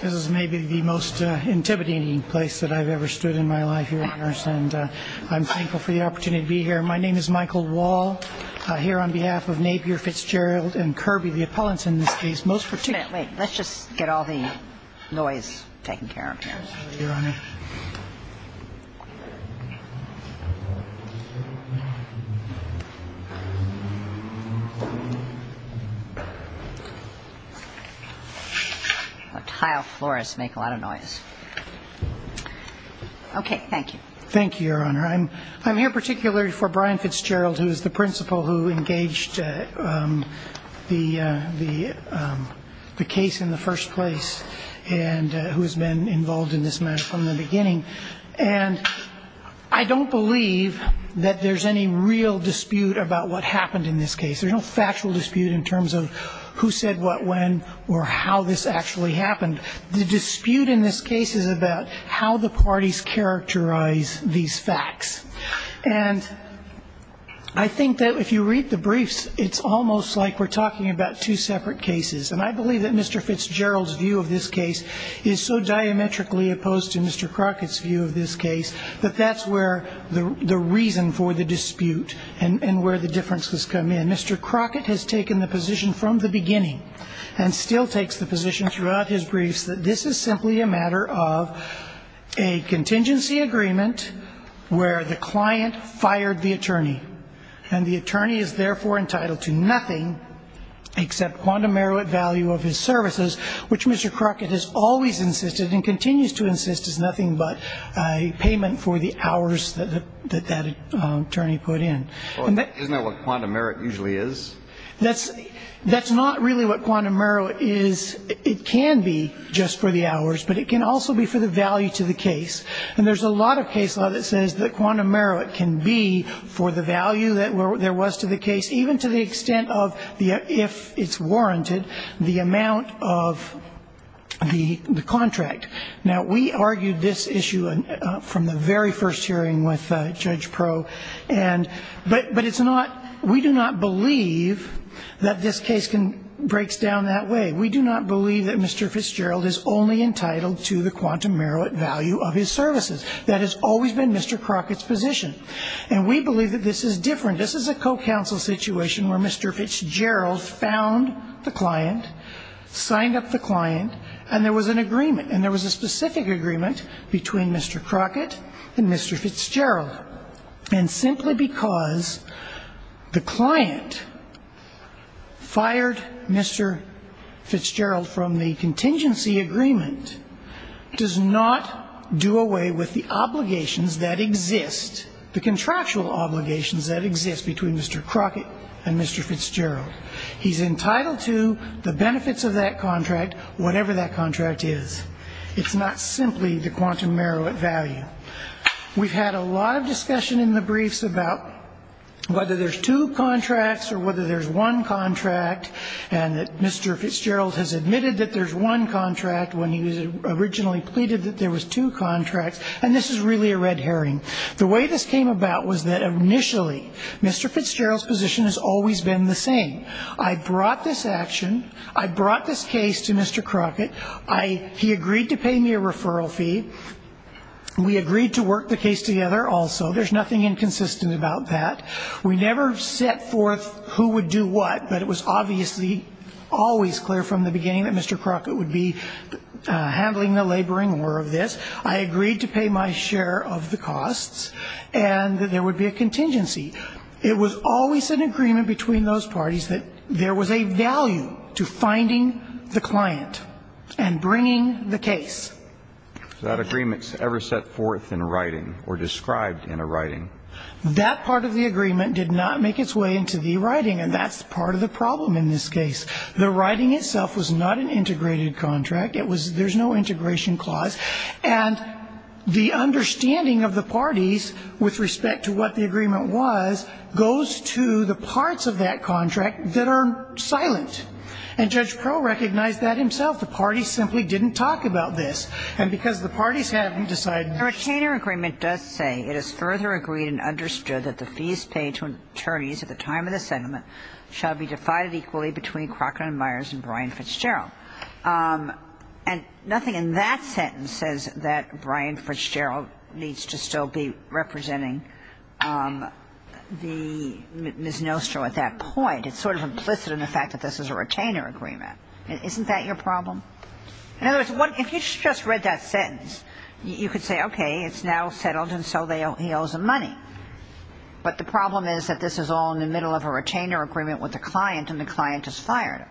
This is maybe the most intimidating place that I've ever stood in my life here at Harris and I'm thankful for the opportunity to be here. My name is Michael Wall, here on behalf of Napier Fitzgerald and Kirby, the appellants in this case, most particularly... Wait, let's just get all the noise taken care of here. Tile floors make a lot of noise. Okay, thank you. Thank you, Your Honor. I'm here particularly for Brian Fitzgerald, who is the principal who engaged the case in the first place and who has been involved in this matter from the beginning. And I don't believe that there's any real dispute about what happened in this case. There's no factual dispute in terms of who said what, when, or how this actually happened. The dispute in this case is about how the parties characterize these facts. And I think that if you read the briefs, it's almost like we're talking about two separate cases. And I believe that Mr. Fitzgerald's view of this case is so diametrically opposed to Mr. Crockett's view of this case that that's where the reason for the dispute and where the differences come in. Mr. Crockett has taken the position from the beginning and still takes the position throughout his briefs that this is simply a matter of a contingency agreement where the client fired the attorney and the attorney is therefore entitled to nothing except quantum merit value of his services, which Mr. Crockett has always insisted and continues to insist is nothing but a payment for the hours that that attorney put in. Isn't that what quantum merit usually is? That's not really what quantum merit is. It can be just for the hours, but it can also be for the value to the case. And there's a lot of case law that says that even to the extent of if it's warranted, the amount of the contract. Now we argued this issue from the very first hearing with Judge Proe, but we do not believe that this case breaks down that way. We do not believe that Mr. Fitzgerald is only entitled to the quantum merit value of his services. That has always been Mr. Crockett's position. And we believe that this is different. This is a co-counsel situation where Mr. Fitzgerald found the client, signed up the client, and there was an agreement. And there was a specific agreement between Mr. Crockett and Mr. Fitzgerald. And simply because the client fired Mr. Fitzgerald from the contingency agreement does not do away with the obligations that exist, the contractual obligations that exist between Mr. Crockett and Mr. Fitzgerald. He's entitled to the benefits of that contract, whatever that contract is. It's not simply the quantum merit value. We've had a lot of discussion in the briefs about whether there's two contracts or whether there's one contract, and that Mr. Fitzgerald has admitted that there's one contract when he was originally pleaded that there was two contracts. And this is really a red herring. The way this came about was that initially Mr. Fitzgerald's position has always been the same. I brought this action. I brought this case to Mr. Crockett. He agreed to pay me a referral fee. We agreed to work the case together also. There's nothing inconsistent about that. We never set forth who would do what, but it was obviously always clear from the beginning that Mr. Crockett would be handling the laboring war of this. I would have the costs, and that there would be a contingency. It was always an agreement between those parties that there was a value to finding the client and bringing the case. So that agreement's ever set forth in writing or described in a writing? That part of the agreement did not make its way into the writing, and that's part of the problem in this case. The writing itself was not an integrated contract. It was – there's no integration clause. And the understanding of the parties with respect to what the agreement was goes to the parts of that contract that are silent. And Judge Crowe recognized that himself. The parties simply didn't talk about this. And because the parties haven't decided – The retainer agreement does say, It is further agreed and understood that the fees paid to attorneys at the time of the settlement shall be divided equally between Crockett and Myers and Brian Fitzgerald. And nothing in that sentence says that Brian Fitzgerald needs to still be representing the – Ms. Nostro at that point. It's sort of implicit in the fact that this is a retainer agreement. Isn't that your problem? In other words, if you just read that sentence, you could say, okay, it's now settled, and so he owes them money. But the problem is that this is all in the middle of a retainer agreement with the client, and the client is fired.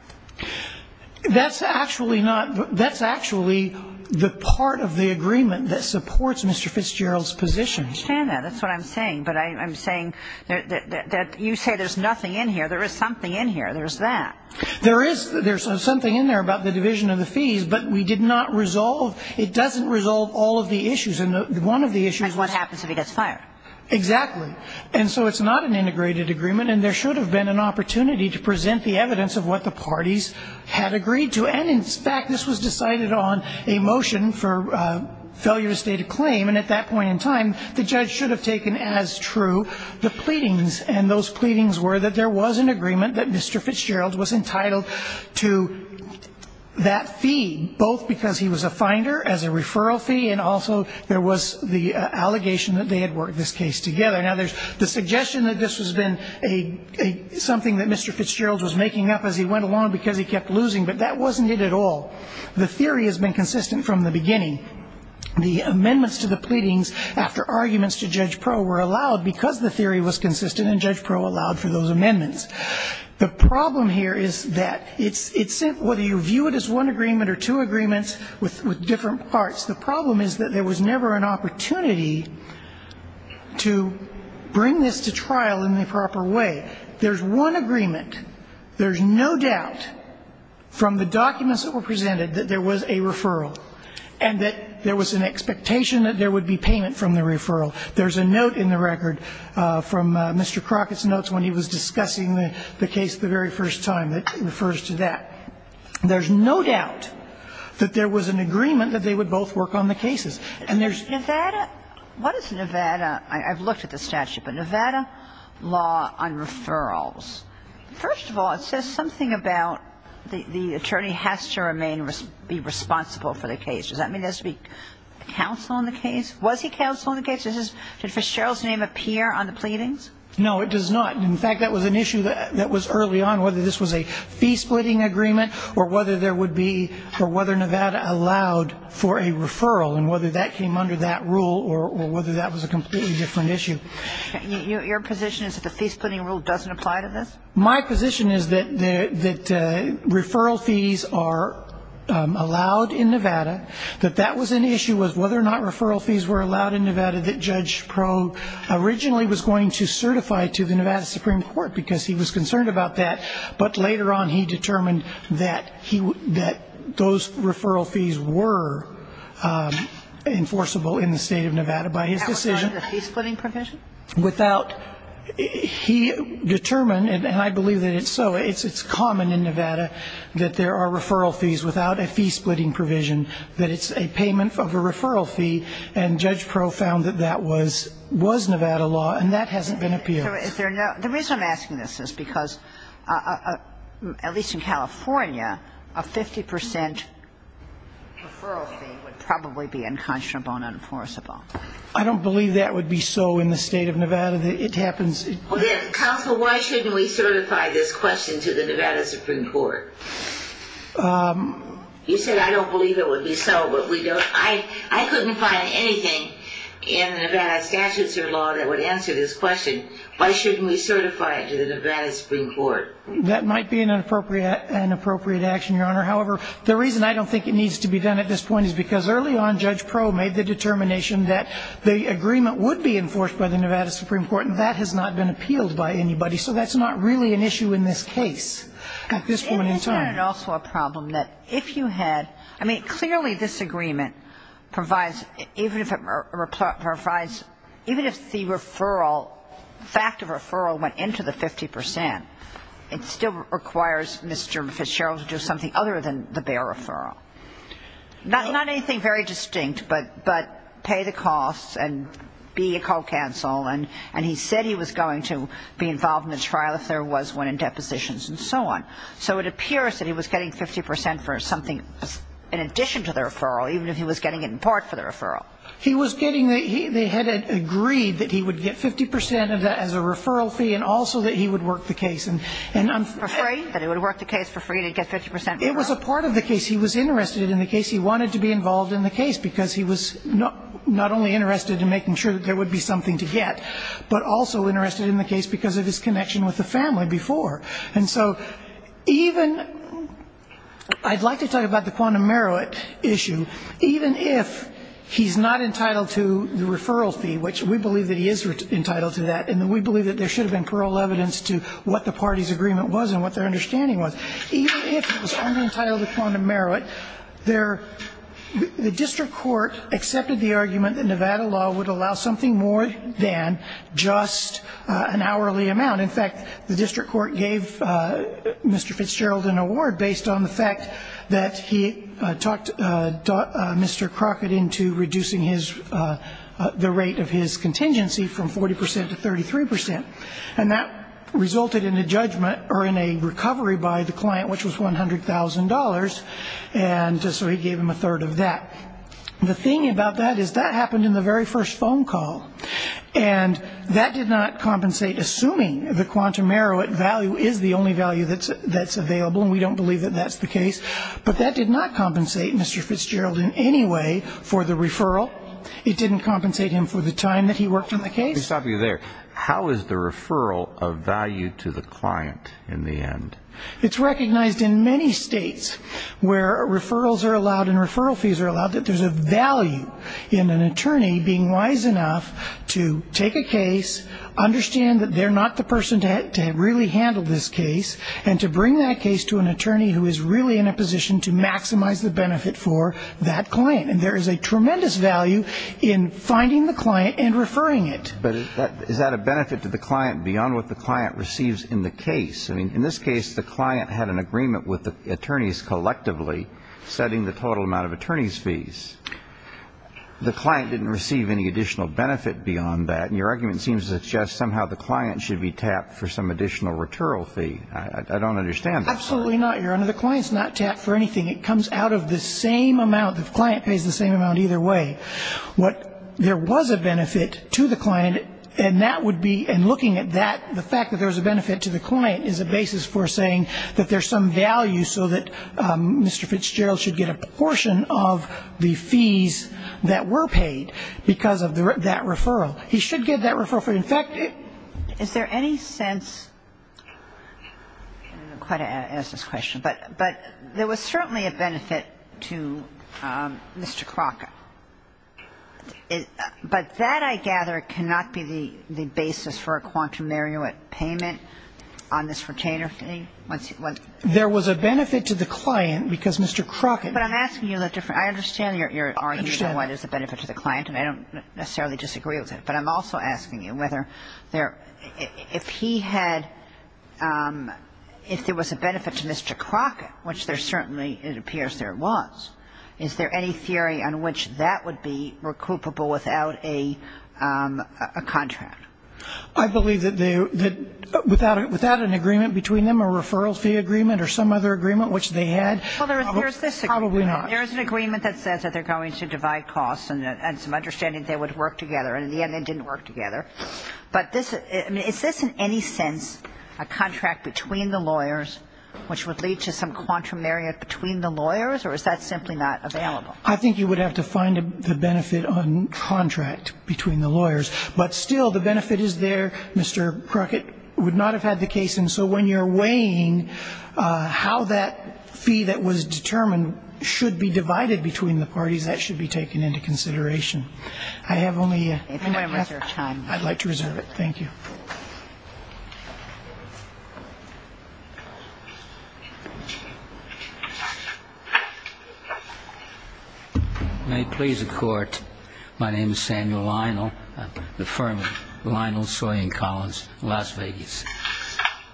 That's actually not – that's actually the part of the agreement that supports Mr. Fitzgerald's position. I understand that. That's what I'm saying. But I'm saying that you say there's nothing in here. There is something in here. There's that. There is – there's something in there about the division of the fees, but we did not resolve – it doesn't resolve all of the issues. And one of the issues was – Like what happens if he gets fired. Exactly. And so it's not an integrated agreement, and there should have been an opportunity to present the evidence of what the parties had agreed to. And in fact, this was decided on a motion for failure of a stated claim, and at that point in time, the judge should have taken as true the pleadings. And those pleadings were that there was an agreement that Mr. Fitzgerald was entitled to that fee, both because he was a finder as a referral fee, and also there was the allegation that they had worked this case together. Now, there's the suggestion that this has been a – something that Mr. Fitzgerald was making up as he went along because he kept losing, but that wasn't it at all. The theory has been consistent from the beginning. The amendments to the pleadings after arguments to Judge Proe were allowed because the theory was consistent, and Judge Proe allowed for those amendments. The problem here is that it's – it's – whether you view it as one agreement or two agreements with – with different parts, the problem is that there was never an opportunity to bring this to trial in the proper way. There's one agreement. There's no doubt from the documents that were presented that there was a referral and that there was an expectation that there would be payment from the referral. There's a note in the record from Mr. Crockett's notes when he was discussing the case the very first time that refers to that. There's no doubt that there was an agreement that they would both work on the cases. And there's – Nevada – what is Nevada – I've looked at the statute, but Nevada law on referrals. First of all, it says something about the attorney has to remain – be responsible for the case. Does that mean there has to be counsel on the case? Was he counsel on the case? Does his – did Fitzgerald's name appear on the pleadings? No, it does not. In fact, that was an issue that was early on, whether this was a fee-splitting agreement or whether there would be – or whether Nevada allowed for a referral and whether that came under that rule or whether that was a completely different issue. Your position is that the fee-splitting rule doesn't apply to this? My position is that referral fees are allowed in Nevada. That that was an issue was whether or not referral fees were allowed in Nevada, that Judge Probe originally was going to certify to the Nevada Supreme Court because he was concerned about that. But later on, he determined that he – that those referral fees were enforceable in the State of Nevada by his decision. Without a fee-splitting provision? Without – he determined, and I believe that it's so, it's common in Nevada that there are referral fees without a fee-splitting provision, that it's a payment of a referral fee, and Judge Probe found that that was – was Nevada law, and that hasn't been appealed. So is there – the reason I'm asking this is because, at least in California, a 50 percent referral fee would probably be unconscionable and unenforceable. I don't believe that would be so in the State of Nevada. It happens – Counsel, why shouldn't we certify this question to the Nevada Supreme Court? You said, I don't believe it would be so, but we don't – I couldn't find anything in Nevada statutes or law that would answer this question. Why shouldn't we certify it to the Nevada Supreme Court? That might be an appropriate action, Your Honor. However, the reason I don't think it needs to be done at this point is because early on, Judge Probe made the determination that the agreement would be enforced by the Nevada Supreme Court, and that has not been appealed by anybody. So that's not really an issue in this case at this point in time. But isn't it also a problem that if you had – I mean, clearly this agreement provides – even if it provides – even if the referral – fact of referral went into the 50 percent, it still requires Mr. Fitzgerald to do something other than the bare referral. Not anything very distinct, but pay the costs and be a co-counsel, and he said he was going to be getting 50 percent for something in addition to the referral, even if he was getting it in part for the referral. He was getting the – they had agreed that he would get 50 percent of that as a referral fee and also that he would work the case. For free? That he would work the case for free and he'd get 50 percent? It was a part of the case. He was interested in the case. He wanted to be involved in the case because he was not only interested in making sure that there would be something to get, but also interested in the case because of his connection with the family before. And so even – I'd like to talk about the quantum merit issue. Even if he's not entitled to the referral fee, which we believe that he is entitled to that, and we believe that there should have been plural evidence to what the party's agreement was and what their understanding was, even if he was under-entitled to quantum merit, there – the district court accepted the argument that Nevada law would allow something more than just an hourly amount. In fact, the district court gave Mr. Fitzgerald an award based on the fact that he talked Mr. Crockett into reducing his – the rate of his contingency from 40 percent to 33 percent. And that resulted in a judgment or in a recovery by the client, which was $100,000. And so he gave him a third of that. The thing about that is that happened in the very first phone call. And that did not compensate – assuming the quantum merit value is the only value that's available, and we don't believe that that's the case – but that did not compensate Mr. Fitzgerald in any way for the referral. It didn't compensate him for the time that he worked on the case. Let me stop you there. How is the referral of value to the client in the end? It's recognized in many states where referrals are allowed and referral fees are allowed that there's a value in an attorney being wise enough to take a case, understand that they're not the person to really handle this case, and to bring that case to an attorney who is really in a position to maximize the benefit for that client. And there is a tremendous value in finding the client and referring it. But is that a benefit to the client beyond what the client receives in the case? I mean, in this case, the client had an agreement with the attorneys collectively setting the total amount of attorneys' fees. The client didn't receive any additional benefit beyond that, and your argument seems to suggest somehow the client should be tapped for some additional retural fee. I don't understand that. Absolutely not, Your Honor. The client's not tapped for anything. It comes out of the same amount – the client pays the same amount either way. What – there was a benefit to the client, and that would be – and looking at that, the fact that there's a benefit to the client is a basis for saying that there's some value so that Mr. Fitzgerald should get a portion of the fees that were paid because of that referral. He should get that referral for – in fact, it – Is there any sense – I don't know quite how to ask this question, but there was certainly a benefit to Mr. Crockett. But that, I gather, cannot be the basis for a quantum meruit payment on this retainer fee once he went? There was a benefit to the client because Mr. Crockett – But I'm asking you a different – I understand your argument on why there's a benefit to the client, and I don't necessarily disagree with it. But I'm also asking you whether there – if he had – if there was a benefit to Mr. Crockett, which there certainly – it appears there was, is there any theory on which that would be recoupable without a contract? I believe that they – that without an agreement between them, a referral fee agreement or some other agreement which they had – Well, there's this agreement. Probably not. There's an agreement that says that they're going to divide costs and some understanding that they would work together. And in the end, they didn't work together. But this – I mean, is this in any sense a contract between the lawyers which would lead to some quantum meruit between the lawyers, or is that simply not available? I think you would have to find the benefit on contract between the lawyers. But still, the benefit is there. Mr. Crockett would not have had the case. And so when you're weighing how that fee that was determined should be divided between the parties, that should be taken into consideration. I have only a half – I'm going to reserve time. I'd like to reserve it. Thank you. May it please the Court, my name is Samuel Lionel. I'm at the firm of Lionel, Sawyer & Collins, Las Vegas.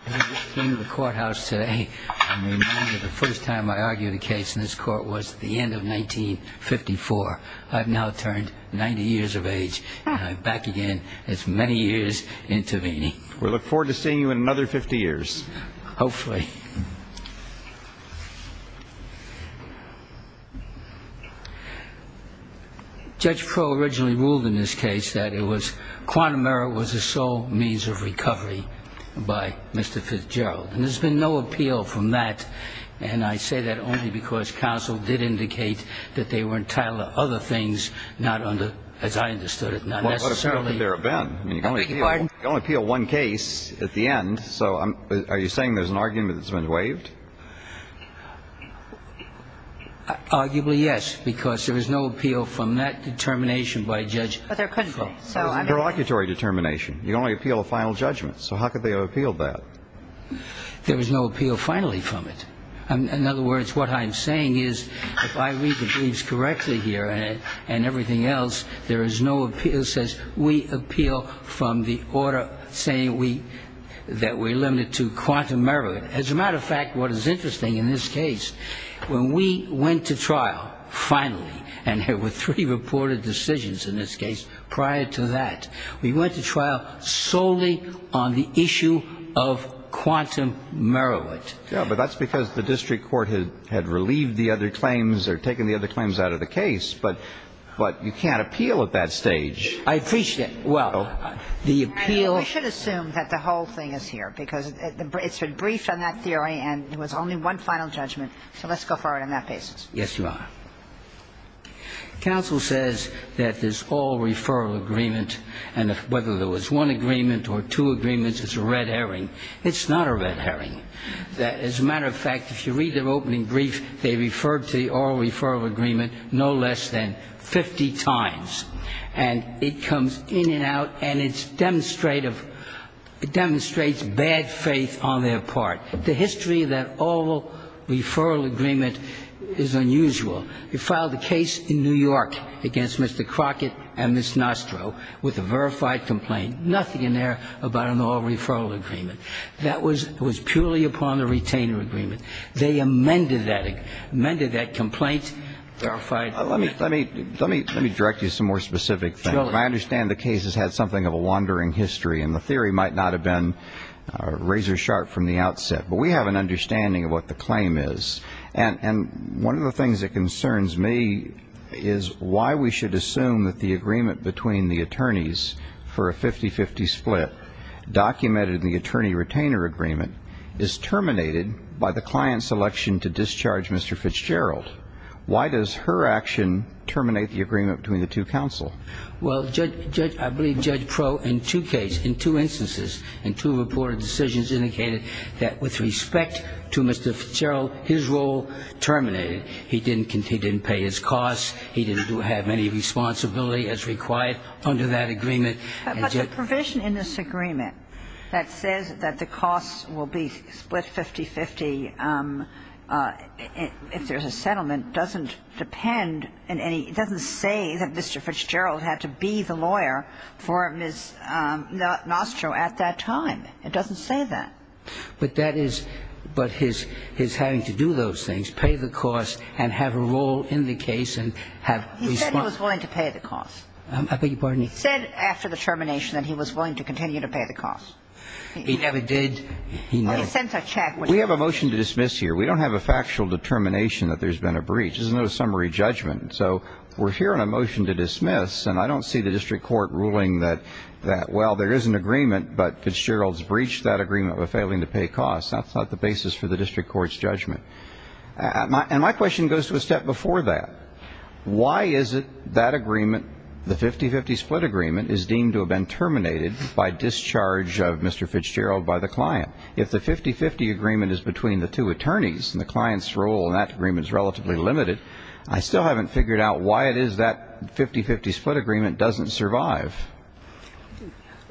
I came to the courthouse today and remember the first time I argued a case in this court was at the end of 1954. I've now turned 90 years of age and I'm back again. It's many years intervening. We look forward to seeing you in another 50 years. Hopefully. Judge Pro originally ruled in this case that it was – quantum meruit was a sole means of recovery by Mr. Fitzgerald. And there's been no appeal from that. And I say that only because counsel did indicate that they were entitled to other things not under – as I understood it, not necessarily – Well, it would have been. I mean, you can only appeal one case at the end. So are you saying there's an argument that's been waived? Arguably yes, because there was no appeal from that determination by Judge – But there couldn't be. It was a prelocutory determination. You can only appeal a final judgment. So how could they have appealed that? There was no appeal finally from it. In other words, what I'm saying is, if I read the briefs correctly here and everything else, there is no appeal that says we appeal from the order saying we – that we're limited to quantum meruit. As a matter of fact, what is interesting in this case, when we went to trial, finally, and there were three reported decisions in this case prior to that, we went to trial solely on the issue of quantum meruit. Yeah, but that's because the district court had relieved the other claims or taken the other claims out of the case. But you can't appeal at that stage. I appreciate – well, the appeal – We should assume that the whole thing is here, because it's been briefed on that theory and it was only one final judgment. So let's go forward on that basis. Yes, Your Honor. Counsel says that this oral referral agreement, and whether there was one agreement or two agreements, it's a red herring. It's not a red herring. As a matter of fact, if you read the opening brief, they referred to the oral referral agreement no less than 50 times. And it comes in and out, and it's demonstrative – it demonstrates bad faith on their part. The history of that oral referral agreement is unusual. They filed a case in New York against Mr. Crockett and Ms. Nostro with a verified complaint, nothing in there about an oral referral agreement. That was – it was purely upon the retainer agreement. They amended that – amended that complaint, verified – Let me – let me – let me direct you to some more specific things. I understand the case has had something of a wandering history, and the theory might not have been razor-sharp from the outset. But we have an understanding of what the claim is. And – and one of the things that concerns me is why we should assume that the agreement between the attorneys for a 50-50 split documented in the attorney-retainer agreement is terminated by the client's election to discharge Mr. Fitzgerald. Why does her action terminate the agreement between the two counsel? Well, Judge – Judge – I believe Judge Proulx in two cases – in two instances in two reported decisions indicated that with respect to Mr. Fitzgerald, his role terminated. He didn't – he didn't pay his costs. He didn't do – have any responsibility as required under that agreement. But the provision in this agreement that says that the costs will be split 50-50 if there's a settlement doesn't depend on any – it doesn't say that Mr. Fitzgerald had to be the lawyer for Ms. Nostro at that time. It doesn't say that. But that is – but his – his having to do those things, pay the costs, and have a role in the case, and have – He said he was willing to pay the costs. I beg your pardon? He said after the termination that he was willing to continue to pay the costs. He never did. He never – He sends a check when he – We have a motion to dismiss here. We don't have a factual determination that there's been a breach. There's no summary judgment. So we're hearing a motion to dismiss, and I don't see the district court ruling that – that, well, there is an agreement, but Fitzgerald's breached that agreement by failing to pay costs. That's not the basis for the district court's judgment. And my question goes to a step before that. Why is it that agreement, the 50-50 split agreement, is deemed to have been terminated by discharge of Mr. Fitzgerald by the client? If the 50-50 agreement is between the two attorneys and the client's role in that agreement is relatively limited, I still haven't figured out why it is that 50-50 split agreement doesn't survive.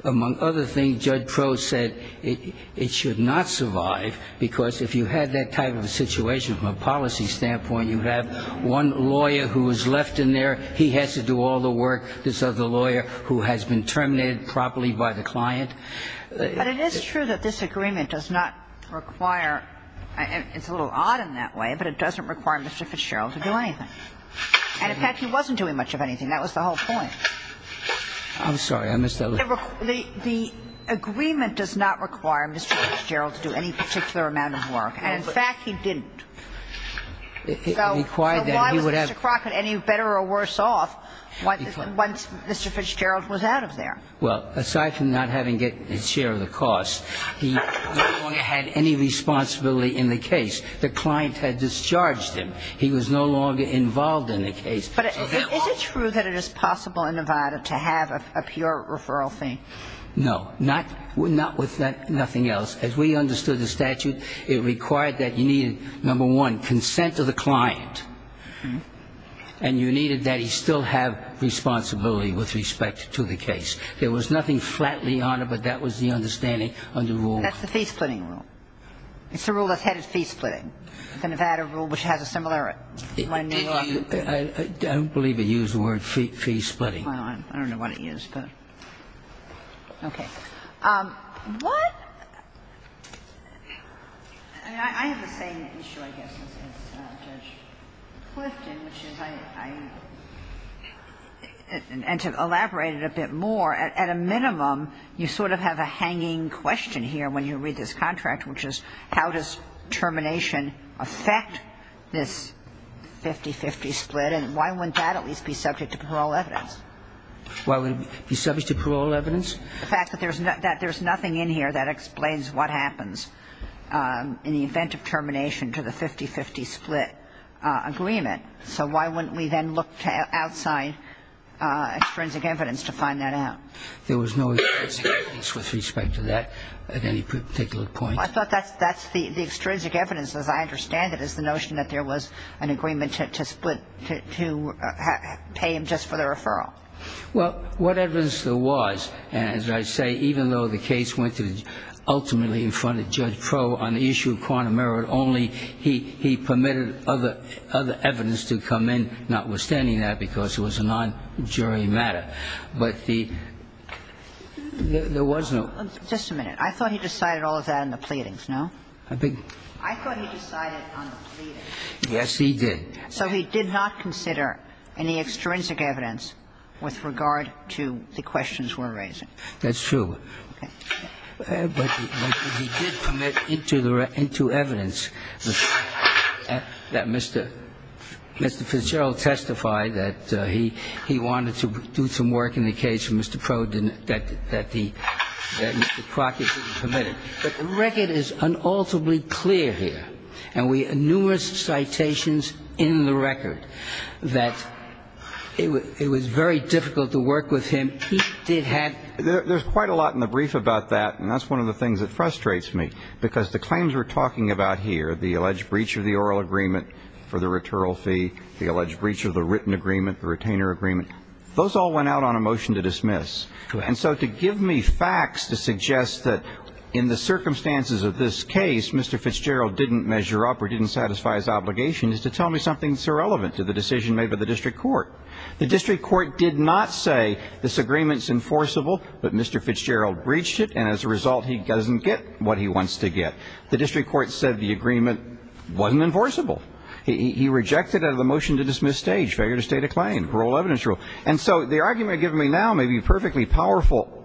Among other things, Judge Crowe said it should not survive, because if you had that type of a situation from a policy standpoint, you'd have one lawyer who was left in there. He has to do all the work, this other lawyer who has been terminated properly by the client. But it is true that this agreement does not require – it's a little odd in that way, but it doesn't require Mr. Fitzgerald to do anything. And, in fact, he wasn't doing much of anything. That was the whole point. I'm sorry. I missed that. The agreement does not require Mr. Fitzgerald to do any particular amount of work. And, in fact, he didn't. It required that he would have – So why was Mr. Crockett any better or worse off once Mr. Fitzgerald was out of there? Well, aside from not having his share of the cost, he no longer had any responsibility in the case. The client had discharged him. He was no longer involved in the case. But is it true that it is possible in Nevada to have a pure referral fee? No. Not with nothing else. As we understood the statute, it required that you needed, number one, consent of the client. And you needed that he still have responsibility with respect to the case. There was nothing flatly on it, but that was the understanding on the rule. That's the fee-splitting rule. It's the rule that's headed fee-splitting. The Nevada rule, which has a similar one. Did you – I don't believe it used the word fee-splitting. Well, I don't know what it used, but – okay. What – I mean, I have the same issue, I guess, as Judge Clifton, which is I – and to elaborate it a bit more, at a minimum, you sort of have a hanging question here when you read this contract, which is how does termination affect this 50-50 split, and why wouldn't that at least be subject to parole evidence? Why wouldn't it be subject to parole evidence? The fact that there's nothing in here that explains what happens in the event of termination to the 50-50 split agreement. So why wouldn't we then look outside extrinsic evidence to find that out? There was no extrinsic evidence with respect to that at any particular point. I thought that's the – the extrinsic evidence, as I understand it, is the notion that there was an agreement to split – to pay him just for the referral. Well, what evidence there was, and as I say, even though the case went to ultimately in front of Judge Proulx on the issue of quantum merit only, he permitted other evidence to come in, notwithstanding that, because it was a non-jury matter. But the – there was no – Just a minute. I thought he decided all of that in the pleadings, no? I thought he decided on the pleadings. Yes, he did. So he did not consider any extrinsic evidence with regard to the questions we're raising? That's true. But he did permit into the – into evidence that Mr. Fitzgerald testified that he wanted to do some work in the case that Mr. Proulx didn't – that the – that Mr. Crockett didn't permit it. But the record is unalterably clear here, and we – numerous citations in the There's quite a lot in the brief about that, and that's one of the things that frustrates me, because the claims we're talking about here – the alleged breach of the oral agreement for the retural fee, the alleged breach of the written agreement, the retainer agreement – those all went out on a motion to dismiss. And so to give me facts to suggest that in the circumstances of this case, Mr. Fitzgerald didn't measure up or didn't satisfy his obligation is to tell me something that's irrelevant to the decision made by the district court. The district court did not say, this agreement's enforceable, but Mr. Fitzgerald breached it, and as a result, he doesn't get what he wants to get. The district court said the agreement wasn't enforceable. He rejected it out of the motion to dismiss stage, failure to state a claim, parole evidence rule. And so the argument given to me now may be perfectly powerful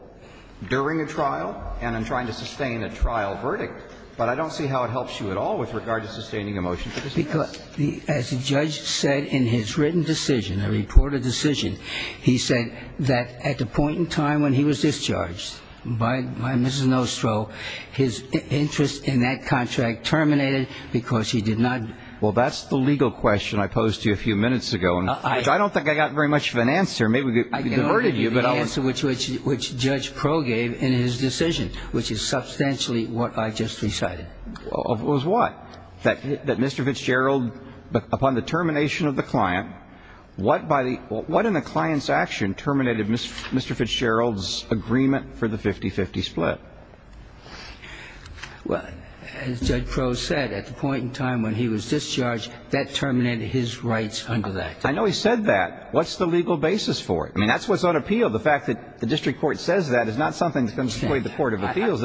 during a trial and in trying to sustain a trial verdict, but I don't see how it helps you at all with regard to sustaining a motion to dismiss. Because as the judge said in his written decision, a reported decision, he said that at the point in time when he was discharged by Mrs. Nostro, his interest in that contract terminated because he did not – Well, that's the legal question I posed to you a few minutes ago, which I don't think I got very much of an answer. Maybe we could have diverted you, but I'll – I can only give you the answer which Judge Pro gave in his decision, which is substantially what I just recited. It was what? That Mr. Fitzgerald, upon the termination of the client, what by the – what in the client's action terminated Mr. Fitzgerald's agreement for the 50-50 split? Well, as Judge Pro said, at the point in time when he was discharged, that terminated his rights under that. I know he said that. What's the legal basis for it? I mean, that's what's on appeal. The fact that the district court says that is not something that's going to for the proposition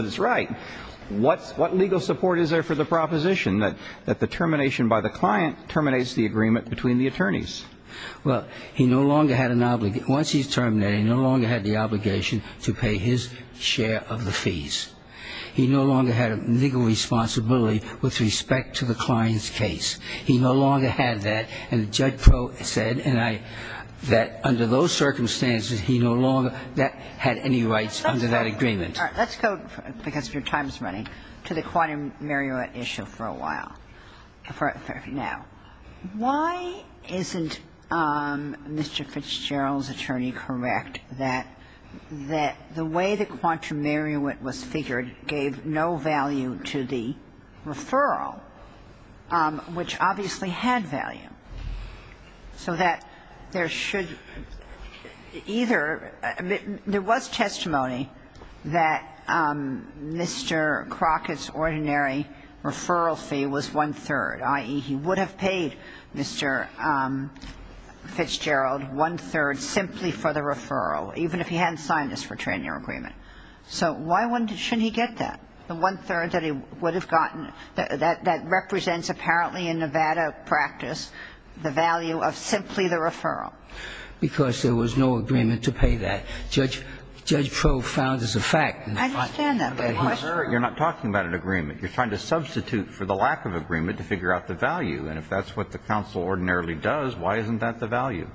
that the termination by the client terminates the agreement between the attorneys. Well, he no longer had an – once he's terminated, he no longer had the obligation to pay his share of the fees. He no longer had a legal responsibility with respect to the client's case. He no longer had that. And Judge Pro said, and I – that under those circumstances, he no longer had any rights under that agreement. Let's go, because your time is running, to the quantum meruit issue for a while, for now. Why isn't Mr. Fitzgerald's attorney correct that the way the quantum meruit was figured gave no value to the referral, which obviously had value, so that there should – either – there was testimony that Mr. Crockett's ordinary referral fee was one-third, i.e., he would have paid Mr. Fitzgerald one-third simply for the referral, even if he hadn't signed this for a trainer agreement. So why wouldn't – shouldn't he get that, the one-third that he would practice, the value of simply the referral? Because there was no agreement to pay that. Judge Pro found as a fact. I understand that, but the question – You're not talking about an agreement. You're trying to substitute for the lack of agreement to figure out the value. And if that's what the counsel ordinarily does, why isn't that the value?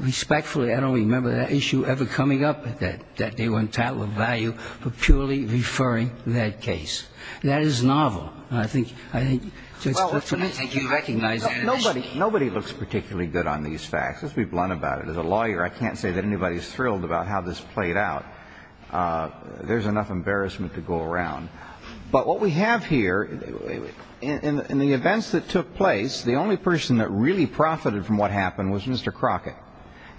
Respectfully, I don't remember that issue ever coming up, that they were entitled to a value for purely referring that case. That is novel. And I think – Well, let me think. You recognize – Nobody looks particularly good on these facts. Let's be blunt about it. As a lawyer, I can't say that anybody's thrilled about how this played out. There's enough embarrassment to go around. But what we have here, in the events that took place, the only person that really profited from what happened was Mr. Crockett.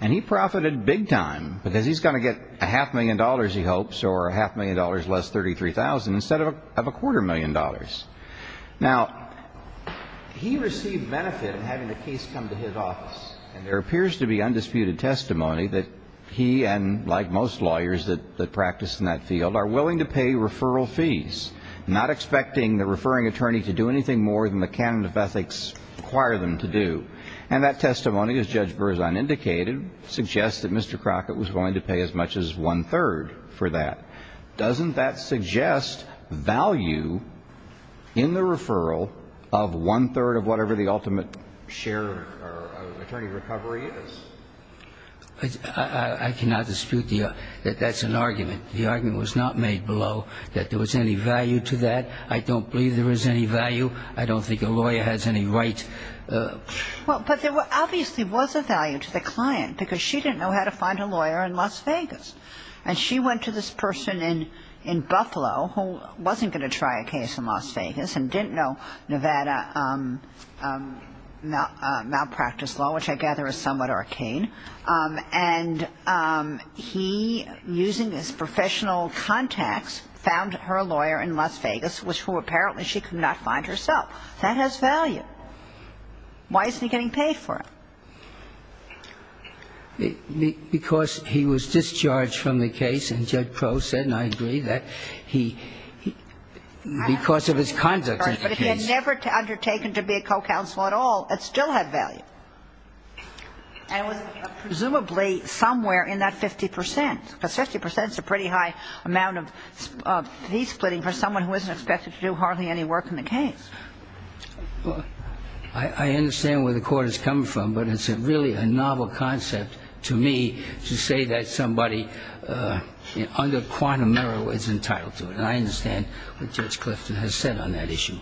And he profited big time, because he's going to get a half million dollars, he hopes, or a half million dollars less, 33,000, instead of a quarter million dollars. Now, he received benefit in having the case come to his office. And there appears to be undisputed testimony that he and, like most lawyers that practice in that field, are willing to pay referral fees, not expecting the referring attorney to do anything more than the canon of ethics require them to do. And that testimony, as Judge Burr is unindicated, suggests that Mr. Crockett was willing to pay as much as one-third for that. Doesn't that suggest value in the referral of one-third of whatever the ultimate share or attorney recovery is? I cannot dispute that that's an argument. The argument was not made below that there was any value to that. I don't believe there is any value. I don't think a lawyer has any right. Well, but there obviously was a value to the client, because she didn't know how to find a lawyer in Las Vegas. And she went to this person in Buffalo who wasn't going to try a case in Las Vegas and didn't know Nevada malpractice law, which I gather is somewhat arcane. And he, using his professional contacts, found her lawyer in Las Vegas, which who apparently she could not find herself. That has value. Why isn't he getting paid for it? Because he was discharged from the case, and Judge Crowe said, and I agree, that he, because of his conduct in the case. But he had never undertaken to be a co-counsel at all. It still had value. And it was presumably somewhere in that 50 percent, because 50 percent is a pretty high amount of fee splitting for someone who isn't expected to do hardly any work in the case. Well, I understand where the court is coming from, but it's really a novel concept to me to say that somebody under quantum error is entitled to it. And I understand what Judge Clifton has said on that issue.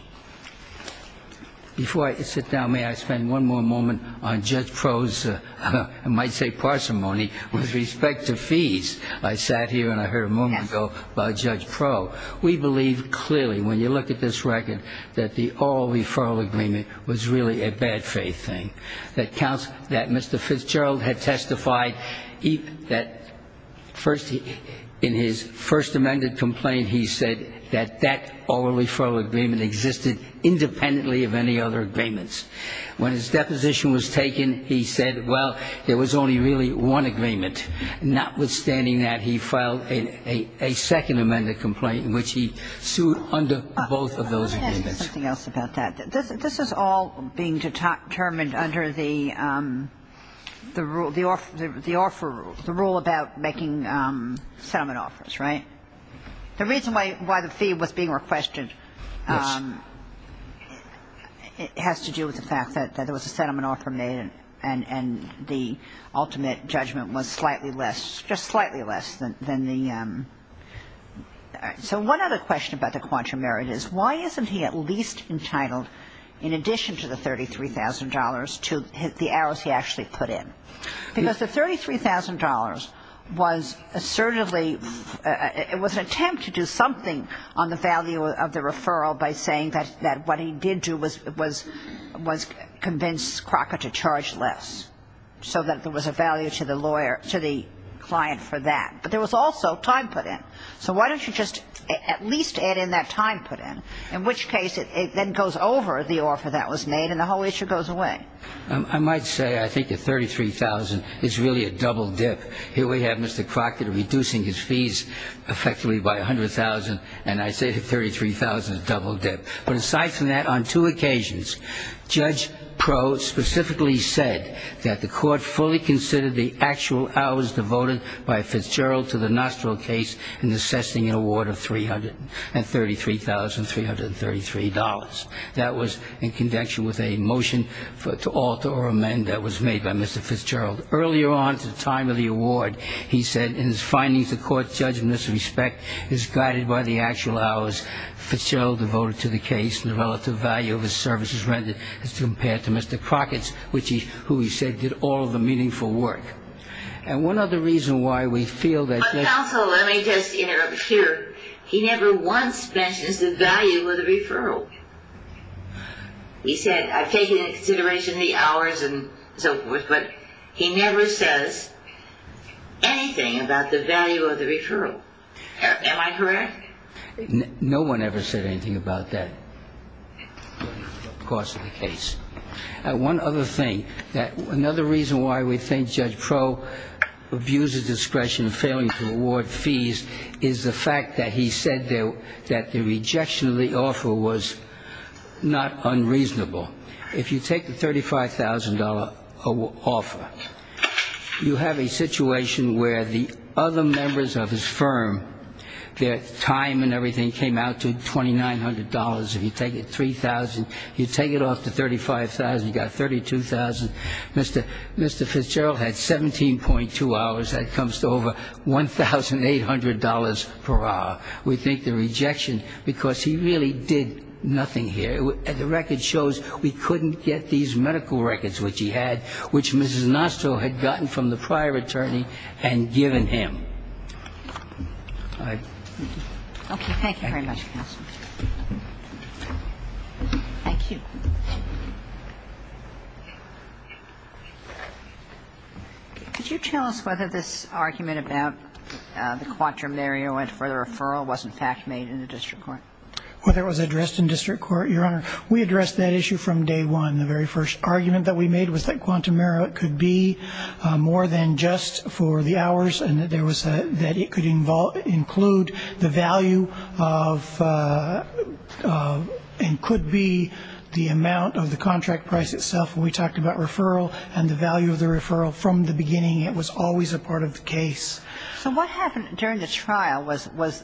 Before I sit down, may I spend one more moment on Judge Crowe's, I might say, parsimony with respect to fees. I sat here and I heard a moment ago about Judge Crowe. We believe clearly, when you look at this record, that the oral referral agreement was really a bad faith thing. That Mr. Fitzgerald had testified that in his first amended complaint, he said that that oral referral agreement existed independently of any other agreements. When his deposition was taken, he said, well, there was only really one agreement. Notwithstanding that, he filed a second amended complaint in which he sued under both of those agreements. I'll say something else about that. This is all being determined under the rule about making settlement offers, right? The reason why the fee was being requested has to do with the fact that there was a settlement offer made and the ultimate judgment was slightly less, just slightly less than the... So one other question about the quantum merit is, why isn't he at least entitled, in addition to the $33,000, to the hours he actually put in? Because the $33,000 was assertively, it was an attempt to do something on the value of the referral by saying that what he did do was convince Crocker to charge less, so that there was a value to the lawyer, to the client for that. But there was also time put in. So why don't you just at least add in that time put in, in which case it then goes over the offer that was made and the whole issue goes away. I might say I think the $33,000 is really a double dip. Here we have Mr. Crocker reducing his fees effectively by $100,000, and I say $33,000 is a double dip. But aside from that, on two occasions, Judge Pro specifically said that the court fully considered the actual hours devoted by Fitzgerald to the Nostril case in assessing an award of $333,333. That was in conjunction with a motion to alter or amend that was made by Mr. Fitzgerald. Earlier on at the time of the award, he said in his findings, the court's judgment of respect is guided by the actual hours Fitzgerald devoted to the case and the relative value of his services rendered as compared to Mr. Crockett's, who he said did all the meaningful work. And one other reason why we feel that... But counsel, let me just interrupt here. He never once mentions the value of the referral. He said, I've taken into consideration the hours and so forth, but he never says anything about the value of the referral. Am I correct? No one ever said anything about that cost of the case. One other thing, another reason why we think Judge Pro abused his discretion in failing to award fees is the fact that he said that the $35,000 offer. You have a situation where the other members of his firm, their time and everything came out to $2,900. If you take it $3,000, you take it off to $35,000, you got $32,000. Mr. Fitzgerald had 17.2 hours. That comes to over $1,800 per hour. We think the rejection, because he really did nothing here. The record shows we couldn't get these medical records, which he had, which Mrs. Nostro had gotten from the prior attorney and given him. Okay. Thank you very much, counsel. Thank you. Could you tell us whether this argument about the quatrium area and further referral was, in fact, made in the district court? Whether it was addressed in district court, Your Honor, we addressed that issue from day one. The very first argument that we made was that quantum era could be more than just for the hours and that there was a, that it could involve, include the value of, and could be the amount of the contract price itself. We talked about referral and the value of the referral from the beginning. It was always a part of the case. So what happened during the trial was, was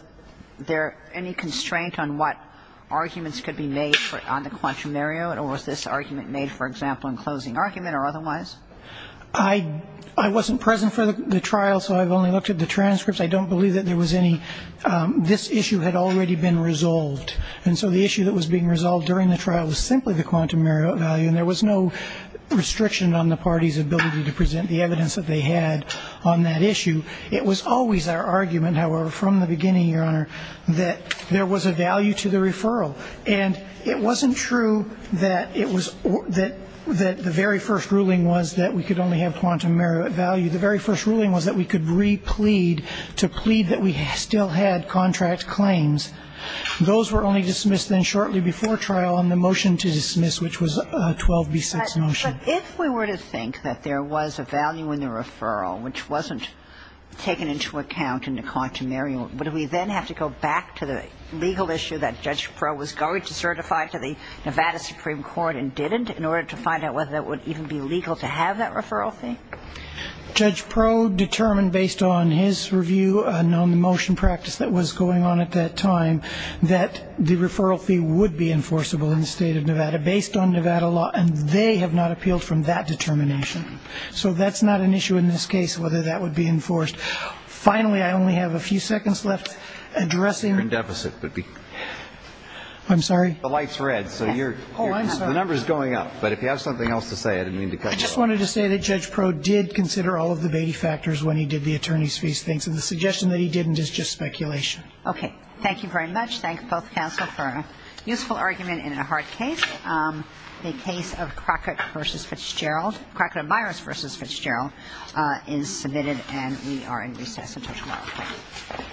there any constraint on what arguments could be made for, on the quantum area or was this argument made, for example, in closing argument or otherwise? I, I wasn't present for the trial, so I've only looked at the transcripts. I don't believe that there was any, this issue had already been resolved. And so the issue that was being resolved during the trial was simply the quantum area value, and there was no restriction on the party's ability to present the evidence that they had on that issue. It was always our argument, however, from the beginning, Your Honor, that there was a value to the referral. And it wasn't true that it was, that, that the very first ruling was that we could only have quantum merit value. The very first ruling was that we could re-plead to plead that we still had contract claims. Those were only dismissed then shortly before trial on the motion to dismiss, which was a 12B6 motion. If we were to think that there was a value in the referral, which wasn't taken into account in the quantum area, would we then have to go back to the legal issue that Judge Proh was going to certify to the Nevada Supreme Court and didn't in order to find out whether it would even be legal to have that referral fee? Judge Proh determined based on his review and on the motion practice that was going on at that time, that the referral fee would be enforceable in the state of Nevada based on Nevada law. And they have not appealed from that determination. So that's not an issue in this case, whether that would be enforced. Finally, I only have a few seconds left addressing... Your deficit would be... I'm sorry? The light's red, so you're... Oh, I'm sorry. The number's going up. But if you have something else to say, I didn't mean to cut you off. I just wanted to say that Judge Proh did consider all of the baby factors when he did the attorney's fees thing. So the suggestion that he didn't is just speculation. Okay. Thank you very much. Thank both counsel for a useful argument in a hard case. The case of Crockett v. Fitzgerald, Crockett and Myers v. Fitzgerald, is submitted and we are in recess until tomorrow.